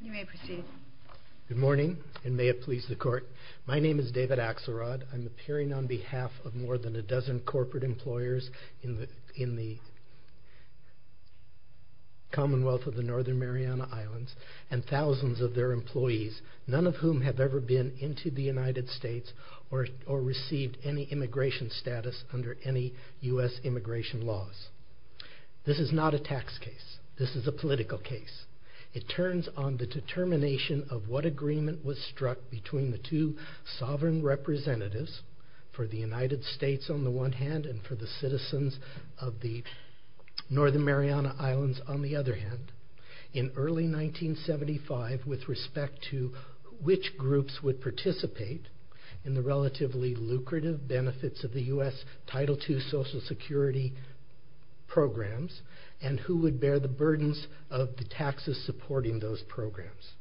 You may proceed. Good morning, and may it please the court. My name is David Axelrod. I'm appearing on behalf of more than a dozen corporate employers in the Commonwealth of the Northern Mariana Islands and thousands of their employees, none of whom have ever been into the United States or received any immigration status under any U.S. immigration laws. This is not a tax case. This is a political case. It turns on the determination of what agreement was struck between the two sovereign representatives for the United States on the one hand and for the citizens of the Northern Mariana Islands on the other hand in early 1975 with respect to which groups would participate in the relatively lucrative benefits of the U.S. Title II Social Security programs, and who would bear the burdens of the taxes supporting those programs.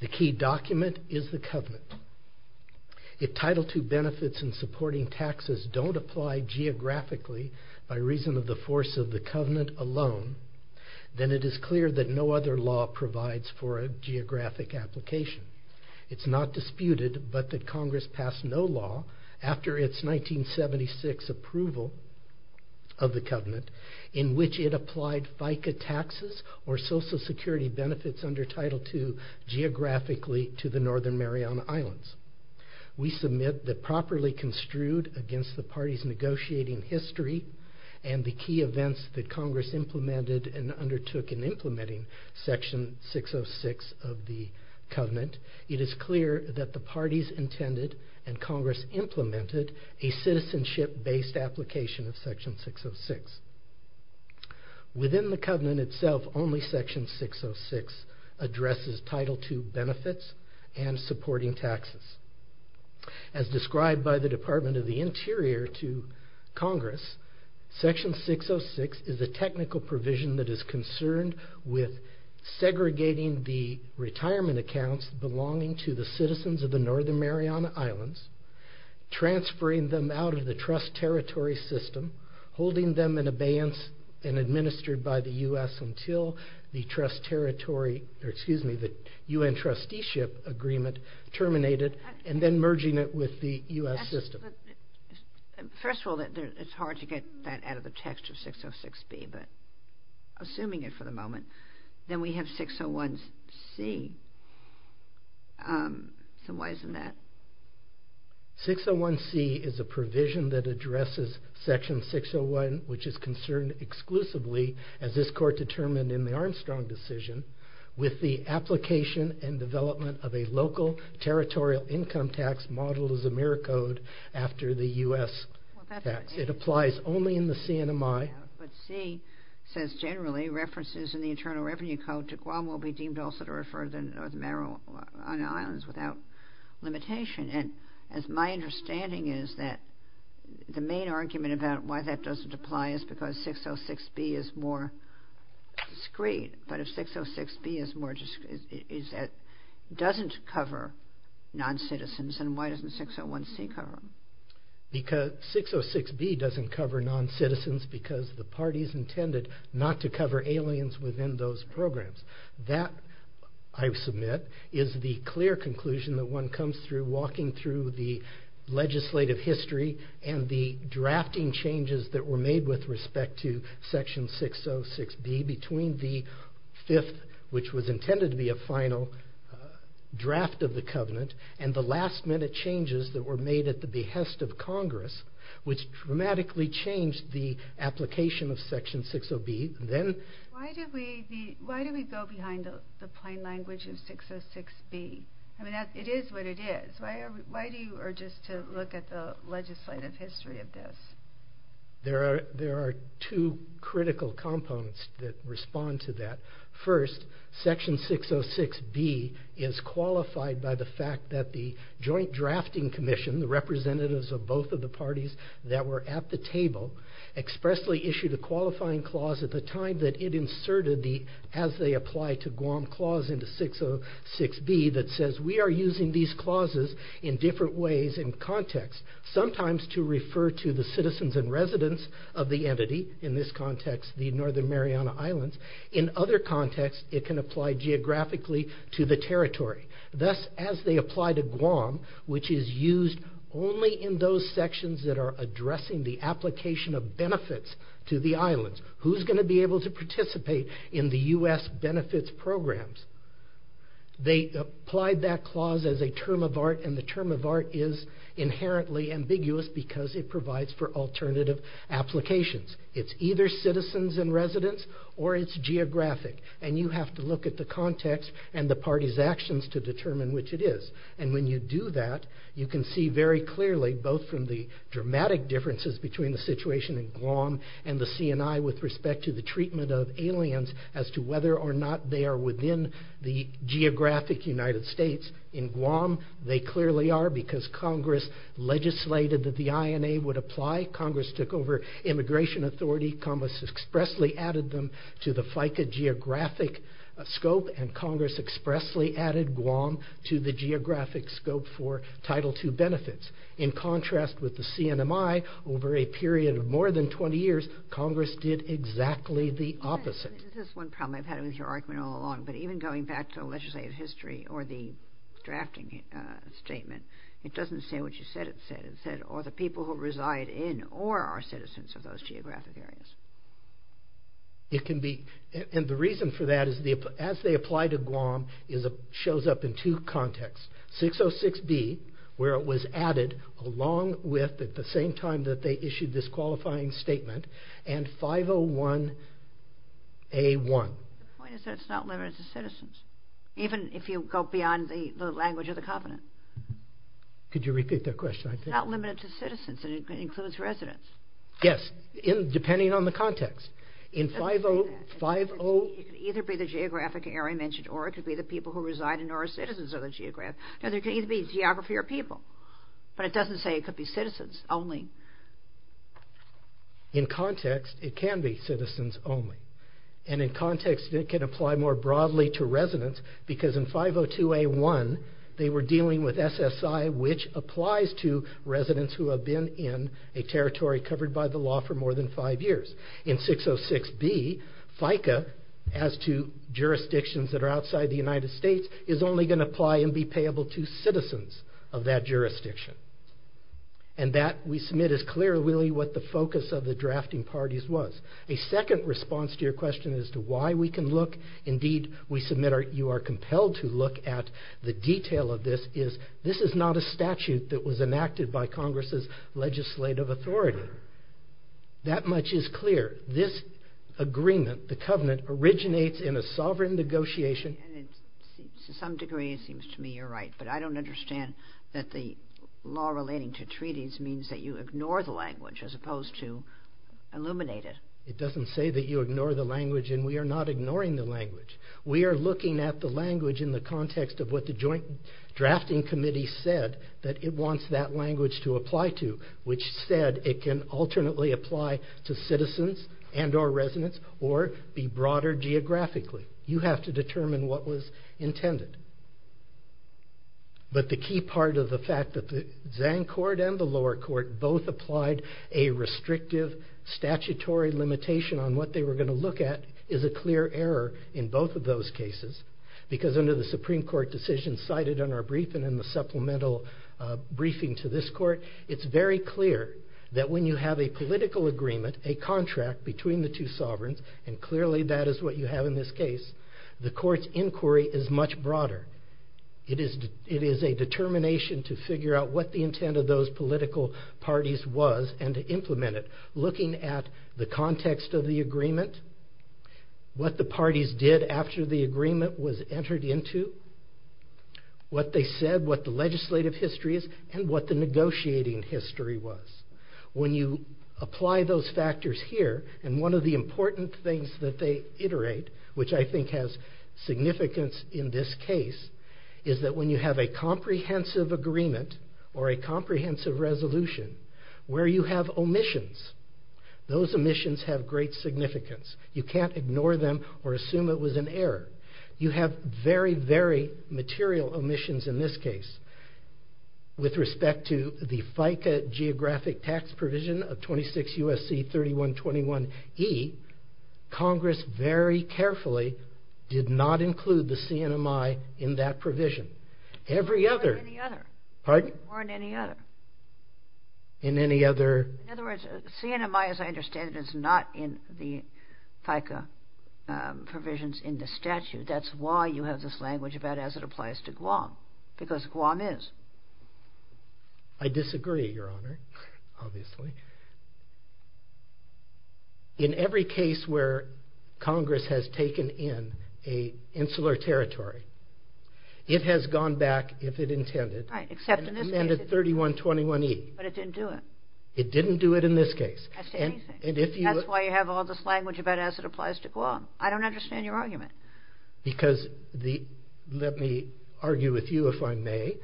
The key document is the covenant. If Title II benefits and supporting taxes don't apply geographically by reason of the force of the covenant alone, then it is clear that no other law provides for a geographic application. It's not disputed, but that Congress passed no law after its 1976 approval of the covenant, in which it applied FICA taxes or Social Security benefits under Title II geographically to the Northern Mariana Islands. We submit that properly construed against the party's negotiating history and the key events that Congress implemented and undertook in implementing Section 606 of the covenant, it is clear that the parties intended and Congress implemented a citizenship based application of Section 606. Within the covenant itself, only Section 606 addresses Title II benefits and supporting taxes. As described by the Department of the Interior to Congress, Section 606 is a technical provision that is concerned with segregating the retirement accounts belonging to the citizens of the Northern Mariana Islands, transferring them out of the trust territory system, holding them in abeyance and administered by the U.S. until the U.N. trusteeship agreement terminated, and then merging it with the U.S. system. First of all, it's hard to get that out of the text of 606B, but assuming it for the moment, then we have 601C. So why isn't that? 601C is a provision that addresses Section 601, which is concerned exclusively, as this court determined in the Armstrong decision, with the application and development of a local territorial income tax modeled as a mirror code after the U.S. tax. It applies only in the CNMI. But C says generally references in the Internal Revenue Code to Guam will be deemed also to refer the Northern Mariana Islands without limitation. And as my understanding is that the main argument about why that doesn't apply is because 606B is more discreet. But if 606B doesn't cover non-citizens, then why doesn't 601C cover them? Because 606B doesn't cover non-citizens because the party's intended not to cover aliens within those programs. That, I submit, is the clear conclusion that one comes through walking the legislative history and the drafting changes that were made with respect to Section 606B between the fifth, which was intended to be a final draft of the covenant, and the last-minute changes that were made at the behest of Congress, which dramatically changed the application of Section 60B. Why do we go behind the plain language of 606B? I mean, it is what it is. Why do you urge us to look at the legislative history of this? There are two critical components that respond to that. First, Section 606B is qualified by the fact that the Joint Drafting Commission, the representatives of both of the parties that were at the table, expressly issued a qualifying clause at the time that it inserted the, as they apply to Guam, clause into 606B that says, we are using these clauses in different ways in context, sometimes to refer to the citizens and residents of the entity, in this context, the Northern Mariana Islands. In other contexts, it can apply geographically to the territory. Thus, as they apply to Guam, which is used only in those sections that are addressing the application of benefits to the islands. Who's going to be able to participate in the U.S. benefits programs? They applied that clause as a term of art, and the term of art is inherently ambiguous because it provides for alternative applications. It's either citizens and residents or it's geographic, and you have to look at the context and the party's actions to determine which it is. And when you do that, you can see very clearly, both from the dramatic differences between the situation in Guam and the CNI with respect to the treatment of aliens as to whether or not they are within the geographic United States. In Guam, they clearly are because Congress legislated that the INA would apply. Congress took over immigration authority. Congress expressly added them to the FICA geographic scope, and Congress expressly added Guam to the geographic scope for Title II benefits. In contrast with the CNMI, over a period of more than 20 years, Congress did exactly the opposite. This is one problem I've had with your argument all along, but even going back to legislative history or the drafting statement, it doesn't say what you said it said. It said, or the people who reside in or are citizens of those geographic areas. And the reason for that is as they apply to Guam, it shows up in two contexts. 606B, where it was added along with, at the same time that they issued this qualifying statement, and 501A1. The point is that it's not limited to citizens, even if you go beyond the language of the covenant. Could you repeat that question? It's not limited to citizens. It includes residents. Yes, depending on the context. It could either be the geographic area I mentioned, or it could be the people who reside in or are citizens of the geographic area. It could either be geography or people, but it doesn't say it could be citizens only. In context, it can be citizens only. And in context, it can apply more broadly to residents, because in 502A1, they were dealing with SSI, which applies to residents who have been in a territory covered by the law for more than five years. In 606B, FICA, as to jurisdictions that are outside the United States, is only going to apply and be payable to citizens of that jurisdiction. And that, we submit, is clear really what the focus of the drafting parties was. A second response to your question as to why we can look, indeed we submit you are compelled to look at the detail of this, is this is not a statute that was enacted by Congress's legislative authority. That much is clear. This agreement, the covenant, originates in a sovereign negotiation. To some degree it seems to me you're right, but I don't understand that the law relating to treaties means that you ignore the language as opposed to illuminate it. It doesn't say that you ignore the language, and we are not ignoring the language. We are looking at the language in the context of what the joint drafting committee said that it wants that language to apply to, which said it can alternately apply to citizens and or residents or be broader geographically. You have to determine what was intended. But the key part of the fact that the Zang court and the lower court both applied a restrictive statutory limitation on what they were going to look at is a clear error in both of those cases. Because under the Supreme Court decision cited in our brief and in the supplemental briefing to this court, it's very clear that when you have a political agreement, a contract between the two sovereigns, and clearly that is what you have in this case, the court's inquiry is much broader. It is a determination to figure out what the intent of those political parties was and to implement it. The context of the agreement, what the parties did after the agreement was entered into, what they said, what the legislative history is, and what the negotiating history was. When you apply those factors here, and one of the important things that they iterate, which I think has significance in this case, is that when you have a comprehensive agreement or a comprehensive resolution, where you have omissions, those omissions have great significance. You can't ignore them or assume it was an error. You have very, very material omissions in this case. With respect to the FICA geographic tax provision of 26 U.S.C. 3121E, Congress very carefully did not include the CNMI in that provision. Or in any other. In other words, CNMI, as I understand it, is not in the FICA provisions in the statute. That's why you have this language about as it applies to Guam, because Guam is. I disagree, Your Honor, obviously. In every case where Congress has taken in an insular territory, it has gone back, if it intended, and amended 3121E. But it didn't do it. It didn't do it in this case. That's why you have all this language about as it applies to Guam. I don't understand your argument. Let me argue with you, if I may.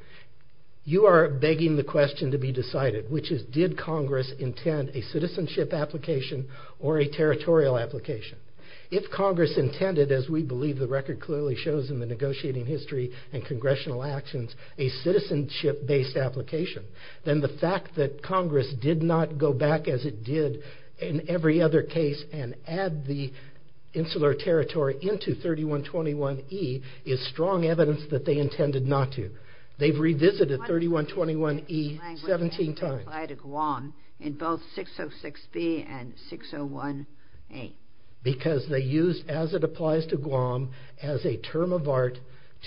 You are begging the question to be decided, which is did Congress intend a citizenship application or a territorial application? If Congress intended, as we believe the record clearly shows in the negotiating history and congressional actions, a citizenship-based application, then the fact that Congress did not go back as it did in every other case and add the insular territory into 3121E is strong evidence that they intended not to. They've revisited 3121E 17 times. In both 606B and 601A. Because they used as it applies to Guam as a term of art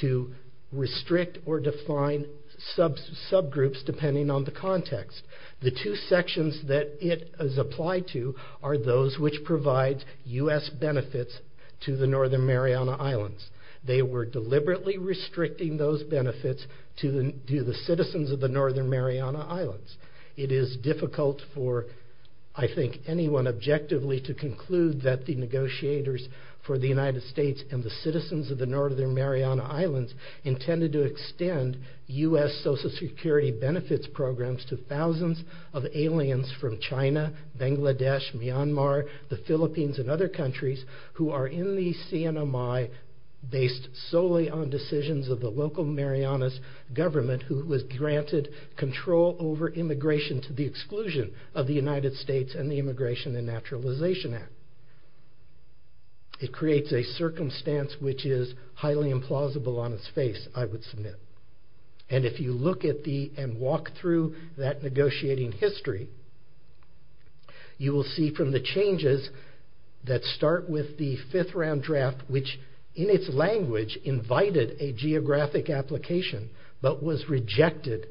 to restrict or define subgroups depending on the context. The two sections that it has applied to are those which provide U.S. benefits to the Northern Mariana Islands. They were deliberately restricting those benefits to the citizens of the Northern Mariana Islands. It is difficult for, I think, anyone objectively to conclude that the negotiators for the United States and the citizens of the Northern Mariana Islands intended to extend U.S. Social Security benefits programs to thousands of aliens from China, Bangladesh, Myanmar, the Philippines and other countries who are in the CNMI based solely on decisions of the local Marianas government who was granted control over immigration to the exclusion of the United States and the Immigration and Naturalization Act. It creates a circumstance which is highly implausible on its face, I would submit. And if you look at the and walk through that negotiating history you will see from the changes that start with the fifth round draft which in its language invited a geographic application but was rejected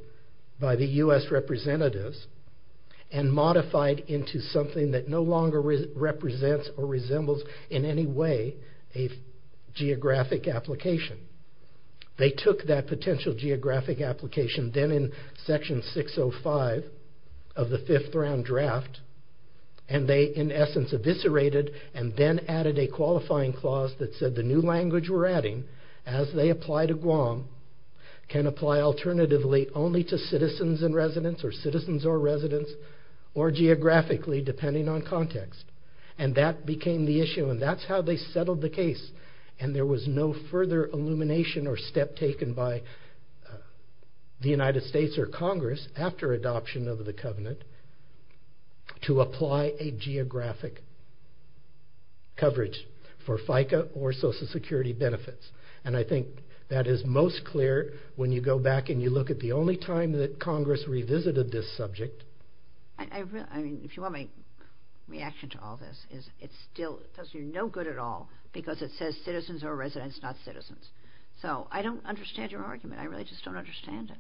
by the U.S. representatives and modified into something that no longer represents or resembles in any way a geographic application. They took that potential geographic application then in section 605 of the fifth round draft and they in essence eviscerated and then added a qualifying clause can apply alternatively only to citizens and residents or citizens or residents or geographically depending on context. And that became the issue and that's how they settled the case and there was no further illumination or step taken by the United States or Congress after adoption of the covenant to apply a geographic coverage for FICA or Social Security benefits. And I think that is most clear when you go back and you look at the only time that Congress revisited this subject. I mean if you want my reaction to all this is it still says you're no good at all because it says citizens or residents not citizens. So I don't understand your argument. I really just don't understand it.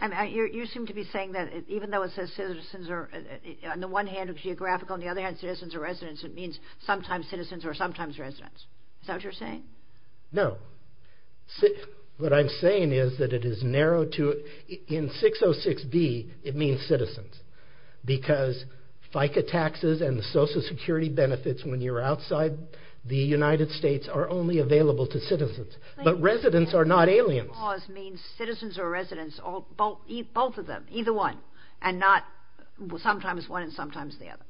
You seem to be saying that even though it says citizens on the one hand it's geographical on the other hand citizens or residents it means sometimes citizens or sometimes residents. Is that what you're saying? No. What I'm saying is that it is narrowed to in 606B it means citizens because FICA taxes and Social Security benefits when you're outside the United States are only available to citizens but residents are not aliens. The clause means citizens or residents both of them, either one and not sometimes one and sometimes the other.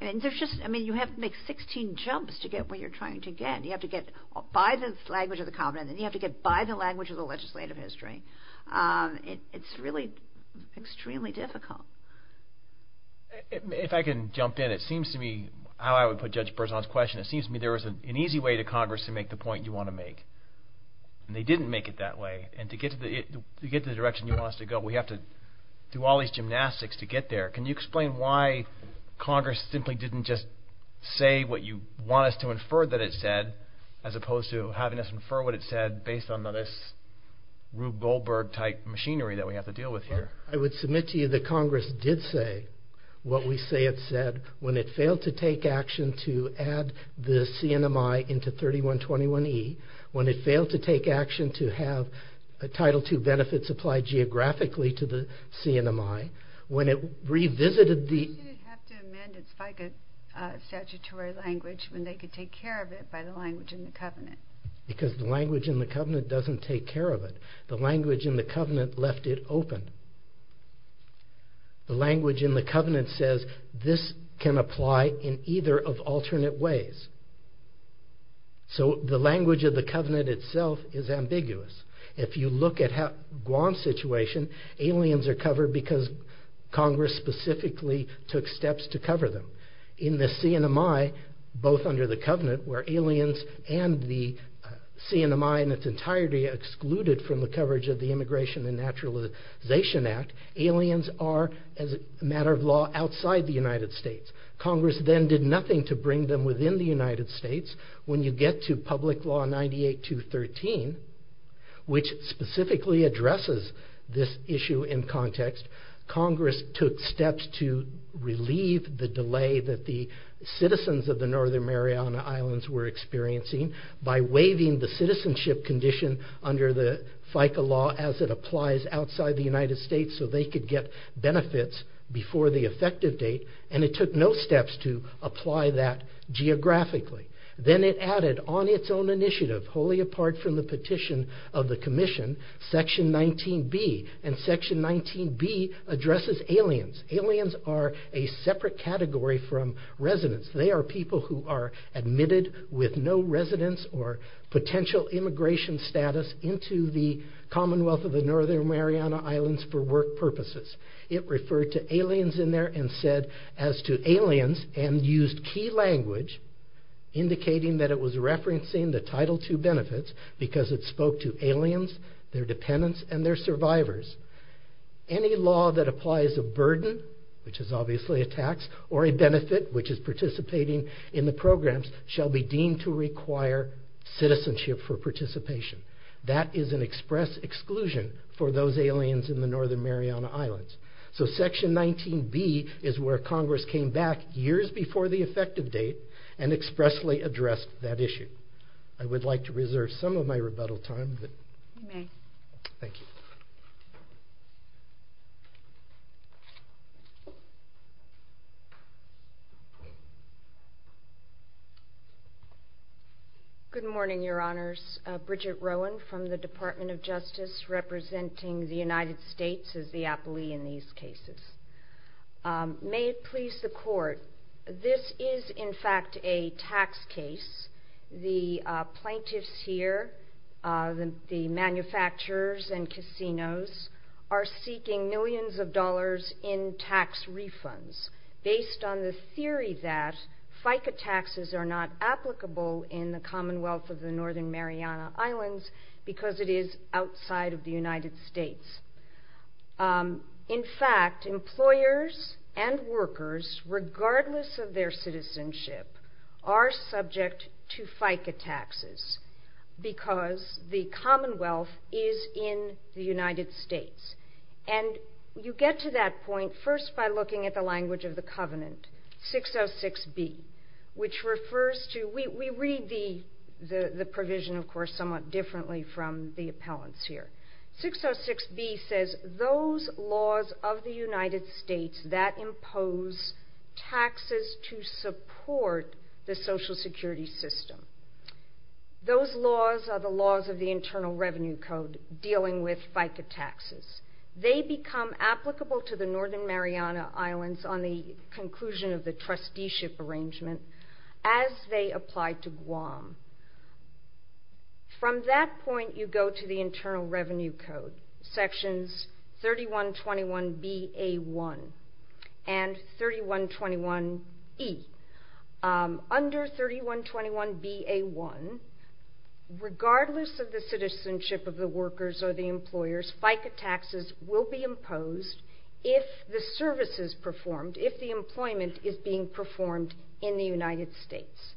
I mean you have to make 16 jumps to get what you're trying to get. You have to get by the language of the covenant and you have to get by the language of the legislative history. It's really extremely difficult. If I can jump in it seems to me how I would put Judge Berzon's question it seems to me there was an easy way to Congress to make the point you want to make. And they didn't make it that way. And to get to the direction you want us to go we have to do all these gymnastics to get there. Can you explain why Congress simply didn't just say what you want us to infer that it said as opposed to having us infer what it said based on this Rube Goldberg type machinery that we have to deal with here? I would submit to you that Congress did say what we say it said when it failed to take action to add the CNMI into 3121E when it failed to take action to have Title II benefits applied geographically to the CNMI when it revisited the... Why did it have to amend its FICA statutory language when they could take care of it by the language in the covenant? Because the language in the covenant doesn't take care of it. The language in the covenant left it open. The language in the covenant says this can apply in either of alternate ways. So the language of the covenant itself is ambiguous. If you look at Guam's situation aliens are covered because Congress specifically took steps to cover them. In the CNMI, both under the covenant where aliens and the CNMI in its entirety are excluded from the coverage of the Immigration and Naturalization Act aliens are, as a matter of law, outside the United States. Congress then did nothing to bring them within the United States. When you get to Public Law 98213 which specifically addresses this issue in context Congress took steps to relieve the delay that the citizens of the Northern Mariana Islands were experiencing by waiving the citizenship condition under the FICA law as it applies outside the United States so they could get benefits before the effective date and it took no steps to apply that geographically. Then it added on its own initiative wholly apart from the petition of the Commission Section 19B, and Section 19B addresses aliens. Aliens are a separate category from residents. They are people who are admitted with no residence or potential immigration status into the Commonwealth of the Northern Mariana Islands for work purposes. It referred to aliens in there and said as to aliens and used key language indicating that it was referencing the Title II benefits because it spoke to aliens, their dependents, and their survivors. Any law that applies a burden, which is obviously a tax or a benefit, which is participating in the programs shall be deemed to require citizenship for participation. That is an express exclusion for those aliens in the Northern Mariana Islands. So Section 19B is where Congress came back years before the effective date and expressly addressed that issue. I would like to reserve some of my rebuttal time. You may. Thank you. Good morning, Your Honors. Bridget Rowan from the Department of Justice representing the United States as the appellee in these cases. May it please the Court. This is, in fact, a tax case. The plaintiffs here, the manufacturers and casinos are seeking millions of dollars in tax refunds based on the theory that FICA taxes are not applicable in the Commonwealth of the Northern Mariana Islands because it is outside of the United States. In fact, employers and workers, regardless of their citizenship, are subject to FICA taxes because the Commonwealth is in the United States. And you get to that point first by looking at the language of the covenant, 606B, which refers to... We read the provision, of course, somewhat differently from the appellants here. 606B says those laws of the United States that impose taxes to support the Social Security system, those laws are the laws of the Internal Revenue Code dealing with FICA taxes. They become applicable to the Northern Mariana Islands on the conclusion of the trusteeship arrangement as they apply to Guam. From that point, you go to the Internal Revenue Code, sections 3121B-A-1 and 3121E. Under 3121B-A-1, regardless of the citizenship of the workers or the employers, FICA taxes will be imposed if the services performed, if the employment is being performed in the United States.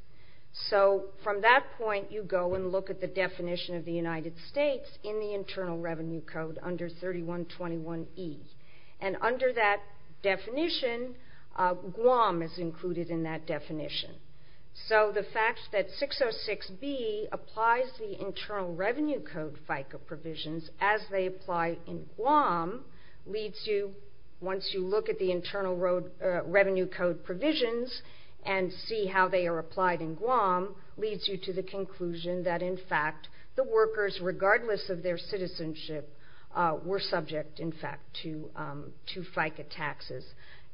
So from that point, you go and look at the definition of the United States in the Internal Revenue Code under 3121E. And under that definition, Guam is included in that definition. So the fact that 606B applies the Internal Revenue Code FICA provisions as they apply in Guam leads you, once you look at the Internal Revenue Code provisions and see how they are applied in Guam, leads you to the conclusion that, in fact, the workers, regardless of their citizenship, were subject, in fact, to FICA taxes.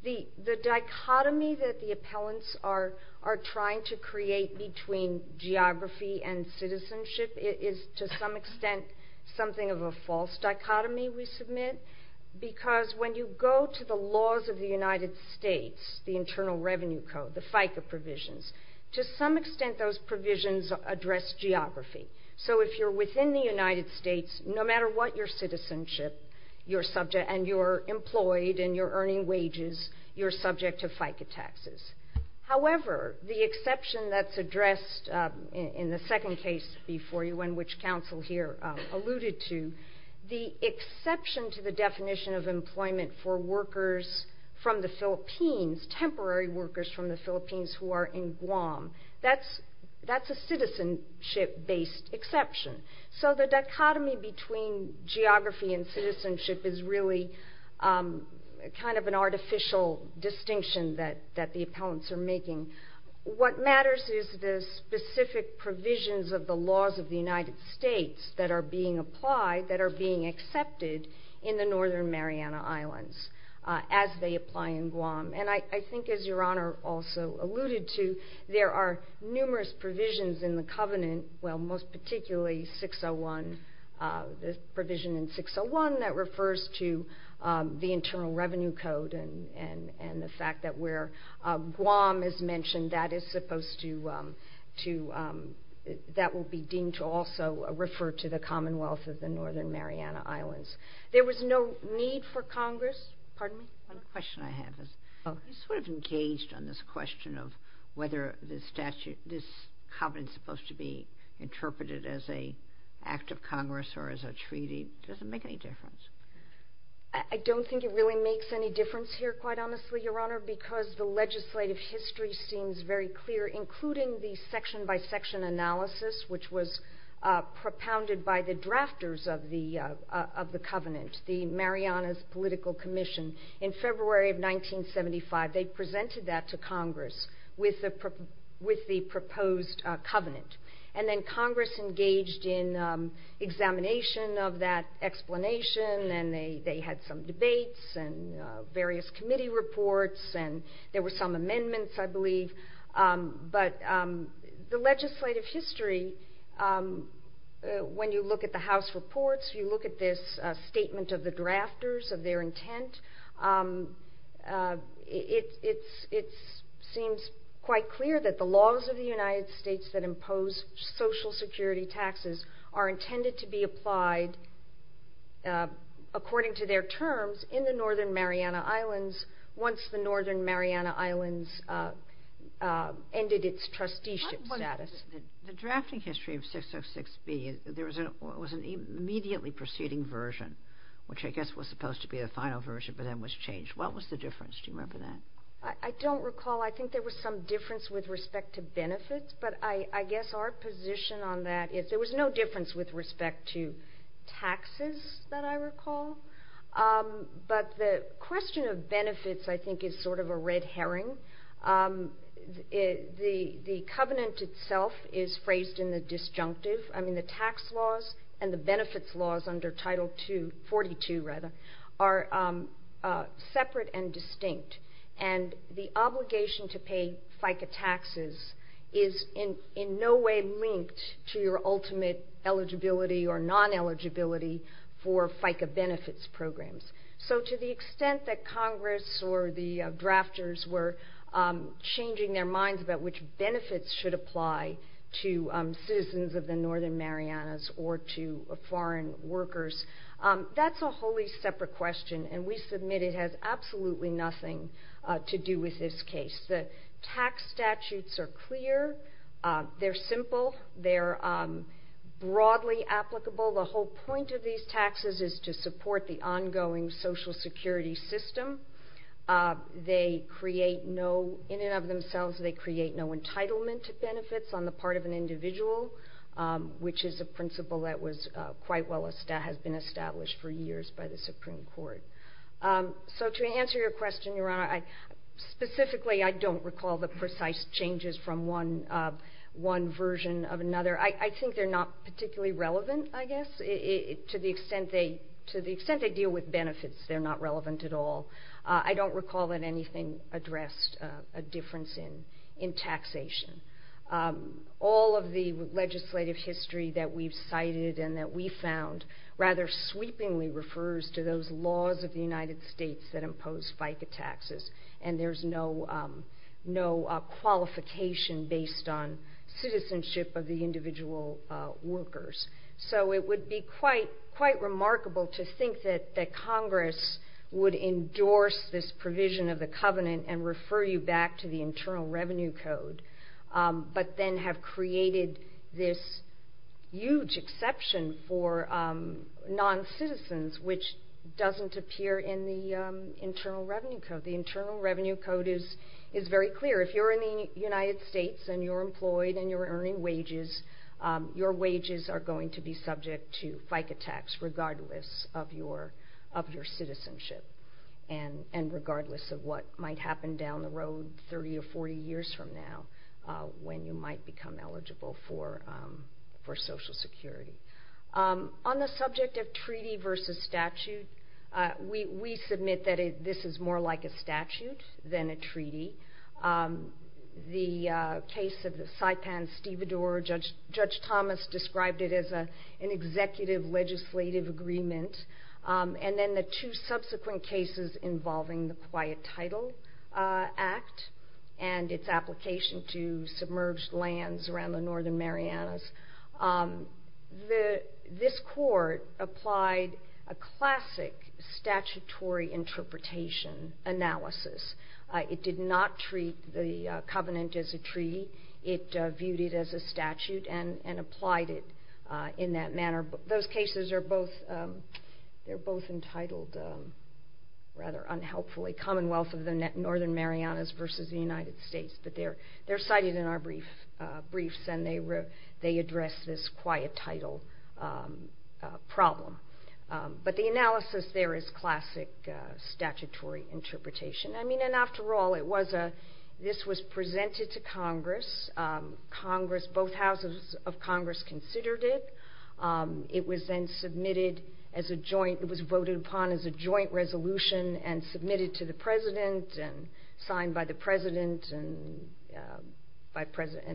The dichotomy that the appellants are trying to create between geography and citizenship is to some extent something of a false dichotomy, we submit, because when you go to the laws of the United States, the Internal Revenue Code, the FICA provisions, to some extent those provisions address geography. So if you're within the United States, no matter what your citizenship, and you're employed and you're earning wages, you're subject to FICA taxes. However, the exception that's addressed in the second case before you, and which counsel here alluded to, the exception to the definition of employment for workers from the Philippines, temporary workers from the Philippines who are in Guam, that's a citizenship-based exception. So the dichotomy between geography and citizenship is really kind of an artificial distinction that the appellants are making. What matters is the specific provisions of the laws of the United States that are being applied, that are being accepted, in the Northern Mariana Islands as they apply in Guam. And I think, as Your Honor also alluded to, there are numerous provisions in the Covenant, well, most particularly 601, the provision in 601 that refers to the Internal Revenue Code and the fact that where Guam is mentioned, that is supposed to, that will be deemed to also refer to the Commonwealth of the Northern Mariana Islands. There was no need for Congress, pardon me? One question I have is, you sort of engaged on this question of whether this Covenant is supposed to be interpreted as an act of Congress or as a treaty. Does it make any difference? I don't think it really makes any difference here, quite honestly, Your Honor, because the legislative history seems very clear, including the section-by-section analysis, which was propounded by the drafters of the Covenant, the Marianas Political Commission, in February of 1975. They presented that to Congress with the proposed Covenant. And then Congress engaged in examination of that explanation and they had some debates and various committee reports and there were some amendments, I believe. But the legislative history, when you look at the House reports, you look at this statement of the drafters, of their intent, it seems quite clear that the laws of the United States that impose Social Security taxes are intended to be applied, according to their terms, in the Northern Mariana Islands once the Northern Mariana Islands ended its trusteeship status. The drafting history of 606B, there was an immediately preceding version, which I guess was supposed to be the final version, but then was changed. What was the difference? Do you remember that? I don't recall. I think there was some difference with respect to benefits, but I guess our position on that is there was no difference with respect to taxes that I recall. But the question of benefits, I think, is sort of a red herring. The Covenant itself is phrased in the disjunctive. I mean, the tax laws and the benefits laws under Title 42 are separate and distinct. The obligation to pay FICA taxes is in no way linked to your ultimate eligibility or non-eligibility for FICA benefits programs. So to the extent that Congress or the drafters were changing their minds about which benefits should apply to citizens of the Northern Marianas or to foreign workers, that's a wholly separate question, and we submit it has absolutely nothing to do with this case. The tax statutes are clear. They're simple. They're broadly applicable. The whole point of these taxes is to support the ongoing Social Security system. In and of themselves, they create no entitlement to benefits on the part of an individual, which is a principle that has been established for years by the Supreme Court. So to answer your question, Your Honor, specifically I don't recall the precise changes from one version of another. I think they're not particularly relevant, I guess. To the extent they deal with benefits, they're not relevant at all. I don't recall that anything addressed a difference in taxation. All of the legislative history that we've cited and that we found rather sweepingly refers to those laws of the United States that impose FICA taxes, and there's no qualification based on citizenship of the individual workers. So it would be quite remarkable to think that Congress would endorse this provision of the covenant and refer you back to the Internal Revenue Code, but then have created this huge exception for non-citizens, which doesn't appear in the Internal Revenue Code. The Internal Revenue Code is very clear. If you're in the United States and you're employed and you're earning wages, your wages are going to be subject to FICA tax and regardless of what might happen down the road 30 or 40 years from now when you might become eligible for Social Security. On the subject of treaty versus statute, we submit that this is more like a statute than a treaty. The case of the Saipan-Stevedore, Judge Thomas described it as an executive legislative agreement, and then the two subsequent cases involving the Quiet Title Act and its application to submerged lands around the northern Marianas. This court applied a classic statutory interpretation analysis. It did not treat the covenant as a treaty. It viewed it as a statute and applied it in that manner. Those cases are both entitled rather unhelpfully, Commonwealth of the Northern Marianas versus the United States, but they're cited in our briefs and they address this quiet title problem. But the analysis there is classic statutory interpretation. After all, this was presented to Congress. Both houses of Congress considered it. It was voted upon as a joint resolution and submitted to the President and signed by the President and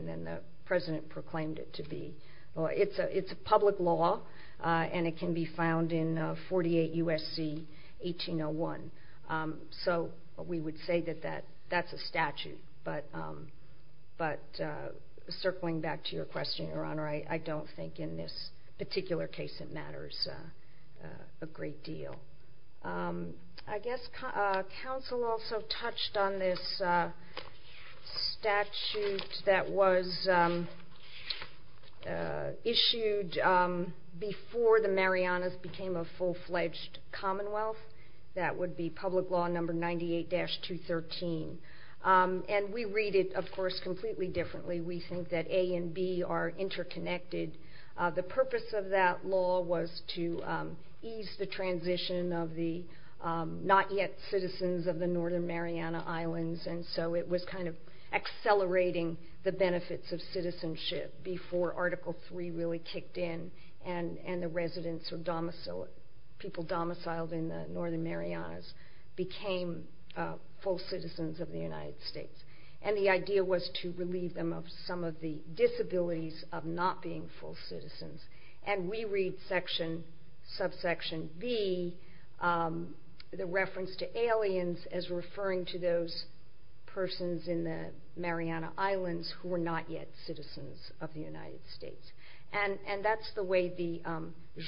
then the President proclaimed it to be. It's a public law, and it can be found in 48 U.S.C. 1801. So we would say that that's a statute, but circling back to your question, Your Honor, I don't think in this particular case it matters a great deal. I guess counsel also touched on this statute that was issued before the Marianas became a full-fledged Commonwealth. That would be Public Law Number 98-213. And we read it, of course, completely differently. We think that A and B are interconnected. The purpose of that law was to ease the transition of the not-yet-citizens of the Northern Mariana Islands, and so it was kind of accelerating the benefits of citizenship before Article III really kicked in and the residents or people domiciled in the Northern Marianas became full citizens of the United States. And the idea was to relieve them of some of the disabilities of not being full citizens. And we read section, subsection B, the reference to aliens as referring to those persons in the Mariana Islands who were not yet citizens of the United States. And that's the way the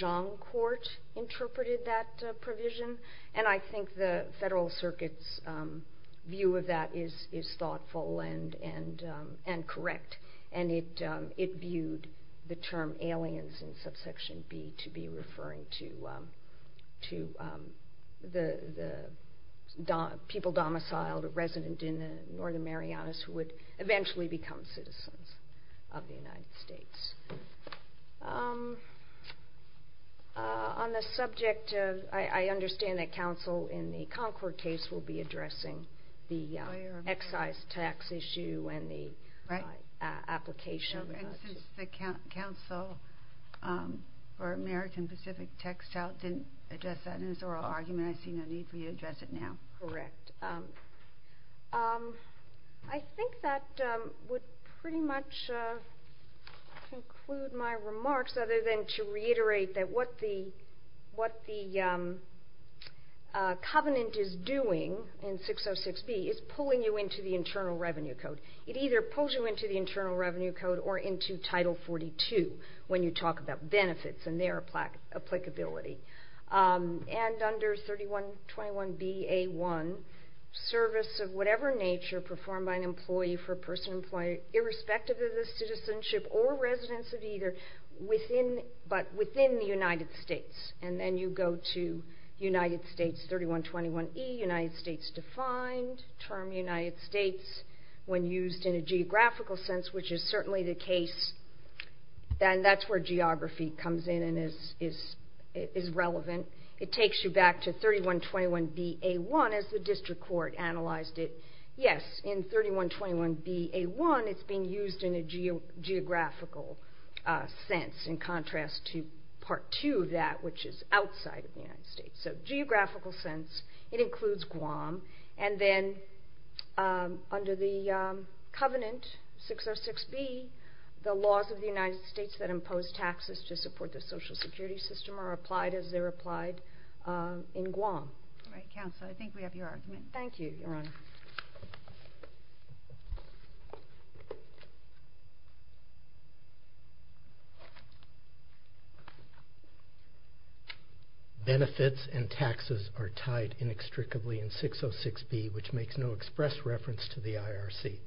Zhang Court interpreted that provision, and I think the Federal Circuit's view of that is thoughtful and correct, and it viewed the term aliens in subsection B to be referring to the people domiciled or resident in the Northern Marianas who would eventually become citizens of the United States. On the subject, I understand that counsel in the Concord case will be addressing the excise tax issue and the application. And since the counsel for American Pacific Textile didn't address that in his oral argument, I see no need for you to address it now. Correct. I think that would pretty much conclude my remarks other than to reiterate that what the covenant is doing in 606B is pulling you into the Internal Revenue Code. It either pulls you into the Internal Revenue Code or into Title 42 when you talk about benefits and their applicability. And under 3121bA1, service of whatever nature performed by an employee for a person employed irrespective of the citizenship or residence of either but within the United States. And then you go to United States 3121e, United States defined, term United States when used in a geographical sense which is certainly the case. And that's where geography comes in and is relevant. It takes you back to 3121bA1 as the district court analyzed it. Yes, in 3121bA1, it's being used in a geographical sense in contrast to Part 2 of that which is outside of the United States. So geographical sense, it includes Guam. And then under the covenant 606B, the laws of the United States that impose taxes to support the social security system are applied as they're applied in Guam. All right, Counselor, I think we have your argument. Thank you, Your Honor. Benefits and taxes are tied inextricably in 606B which makes no express reference to the IRC.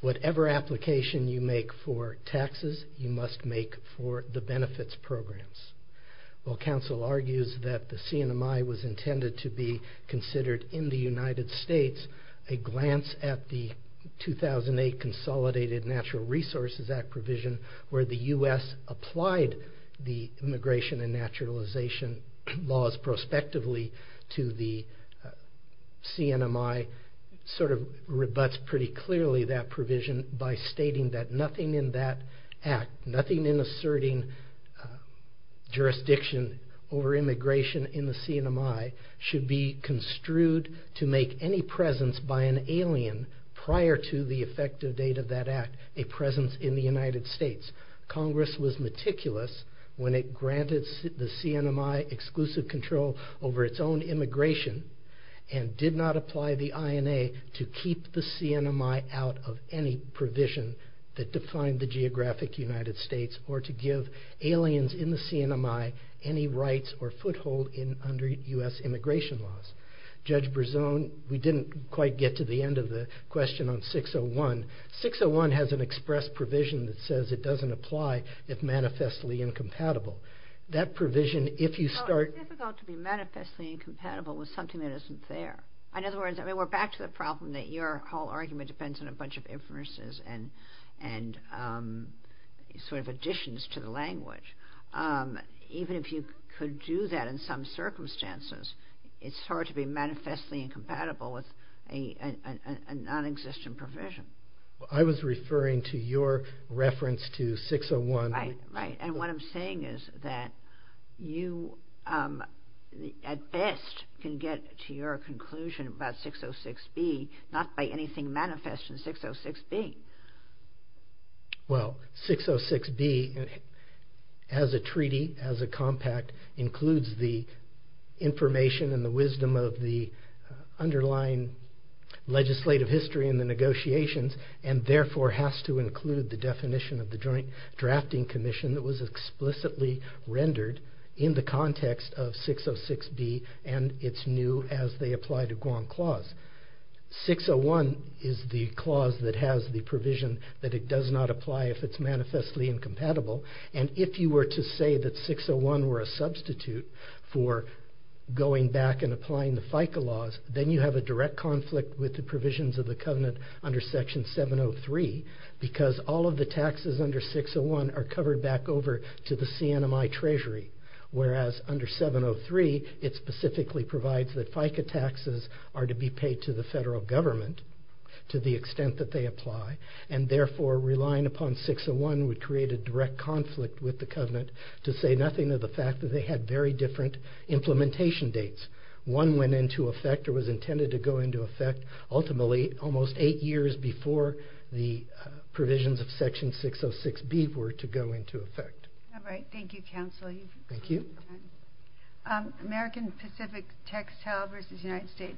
Whatever application you make for taxes, you must make for the benefits programs. While Counsel argues that the CNMI was intended to be considered in the United States, a glance at the 2008 Consolidated Natural Resources Act provision where the U.S. applied the immigration and naturalization laws prospectively to the CNMI sort of rebuts pretty clearly that provision by stating that nothing in that act, nothing in asserting jurisdiction over immigration in the CNMI should be construed to make any presence by an alien prior to the effective date of that act a presence in the United States. Congress was meticulous when it granted the CNMI exclusive control over its own immigration and did not apply the INA to keep the CNMI out of any provision that defined the geographic United States or to give aliens in the CNMI any rights or foothold under U.S. immigration laws. Judge Berzon, we didn't quite get to the end of the question on 601. 601 has an express provision that says it doesn't apply if manifestly incompatible. That provision, if you start... It's difficult to be manifestly incompatible with something that isn't there. In other words, we're back to the problem and sort of additions to the language. Even if you could do that in some circumstances, it's hard to be manifestly incompatible with a non-existent provision. I was referring to your reference to 601. Right, right. And what I'm saying is that you, at best, can get to your conclusion about 606B not by anything manifest in 606B. Well, 606B, as a treaty, as a compact, includes the information and the wisdom of the underlying legislative history in the negotiations and therefore has to include the definition of the Joint Drafting Commission that was explicitly rendered in the context of 606B and it's new as they apply to Guam Clause. 601 is the clause that has the provision that it does not apply if it's manifestly incompatible and if you were to say that 601 were a substitute for going back and applying the FICA laws, then you have a direct conflict with the provisions of the covenant under Section 703 because all of the taxes under 601 are covered back over to the CNMI Treasury whereas under 703, it specifically provides that FICA taxes are to be paid to the federal government to the extent that they apply and therefore relying upon 601 would create a direct conflict with the covenant to say nothing of the fact that they had very different implementation dates. One went into effect or was intended to go into effect ultimately almost eight years before the provisions of Section 606B were to go into effect. All right. Thank you, Counsel. Thank you. American Pacific Textile versus United States.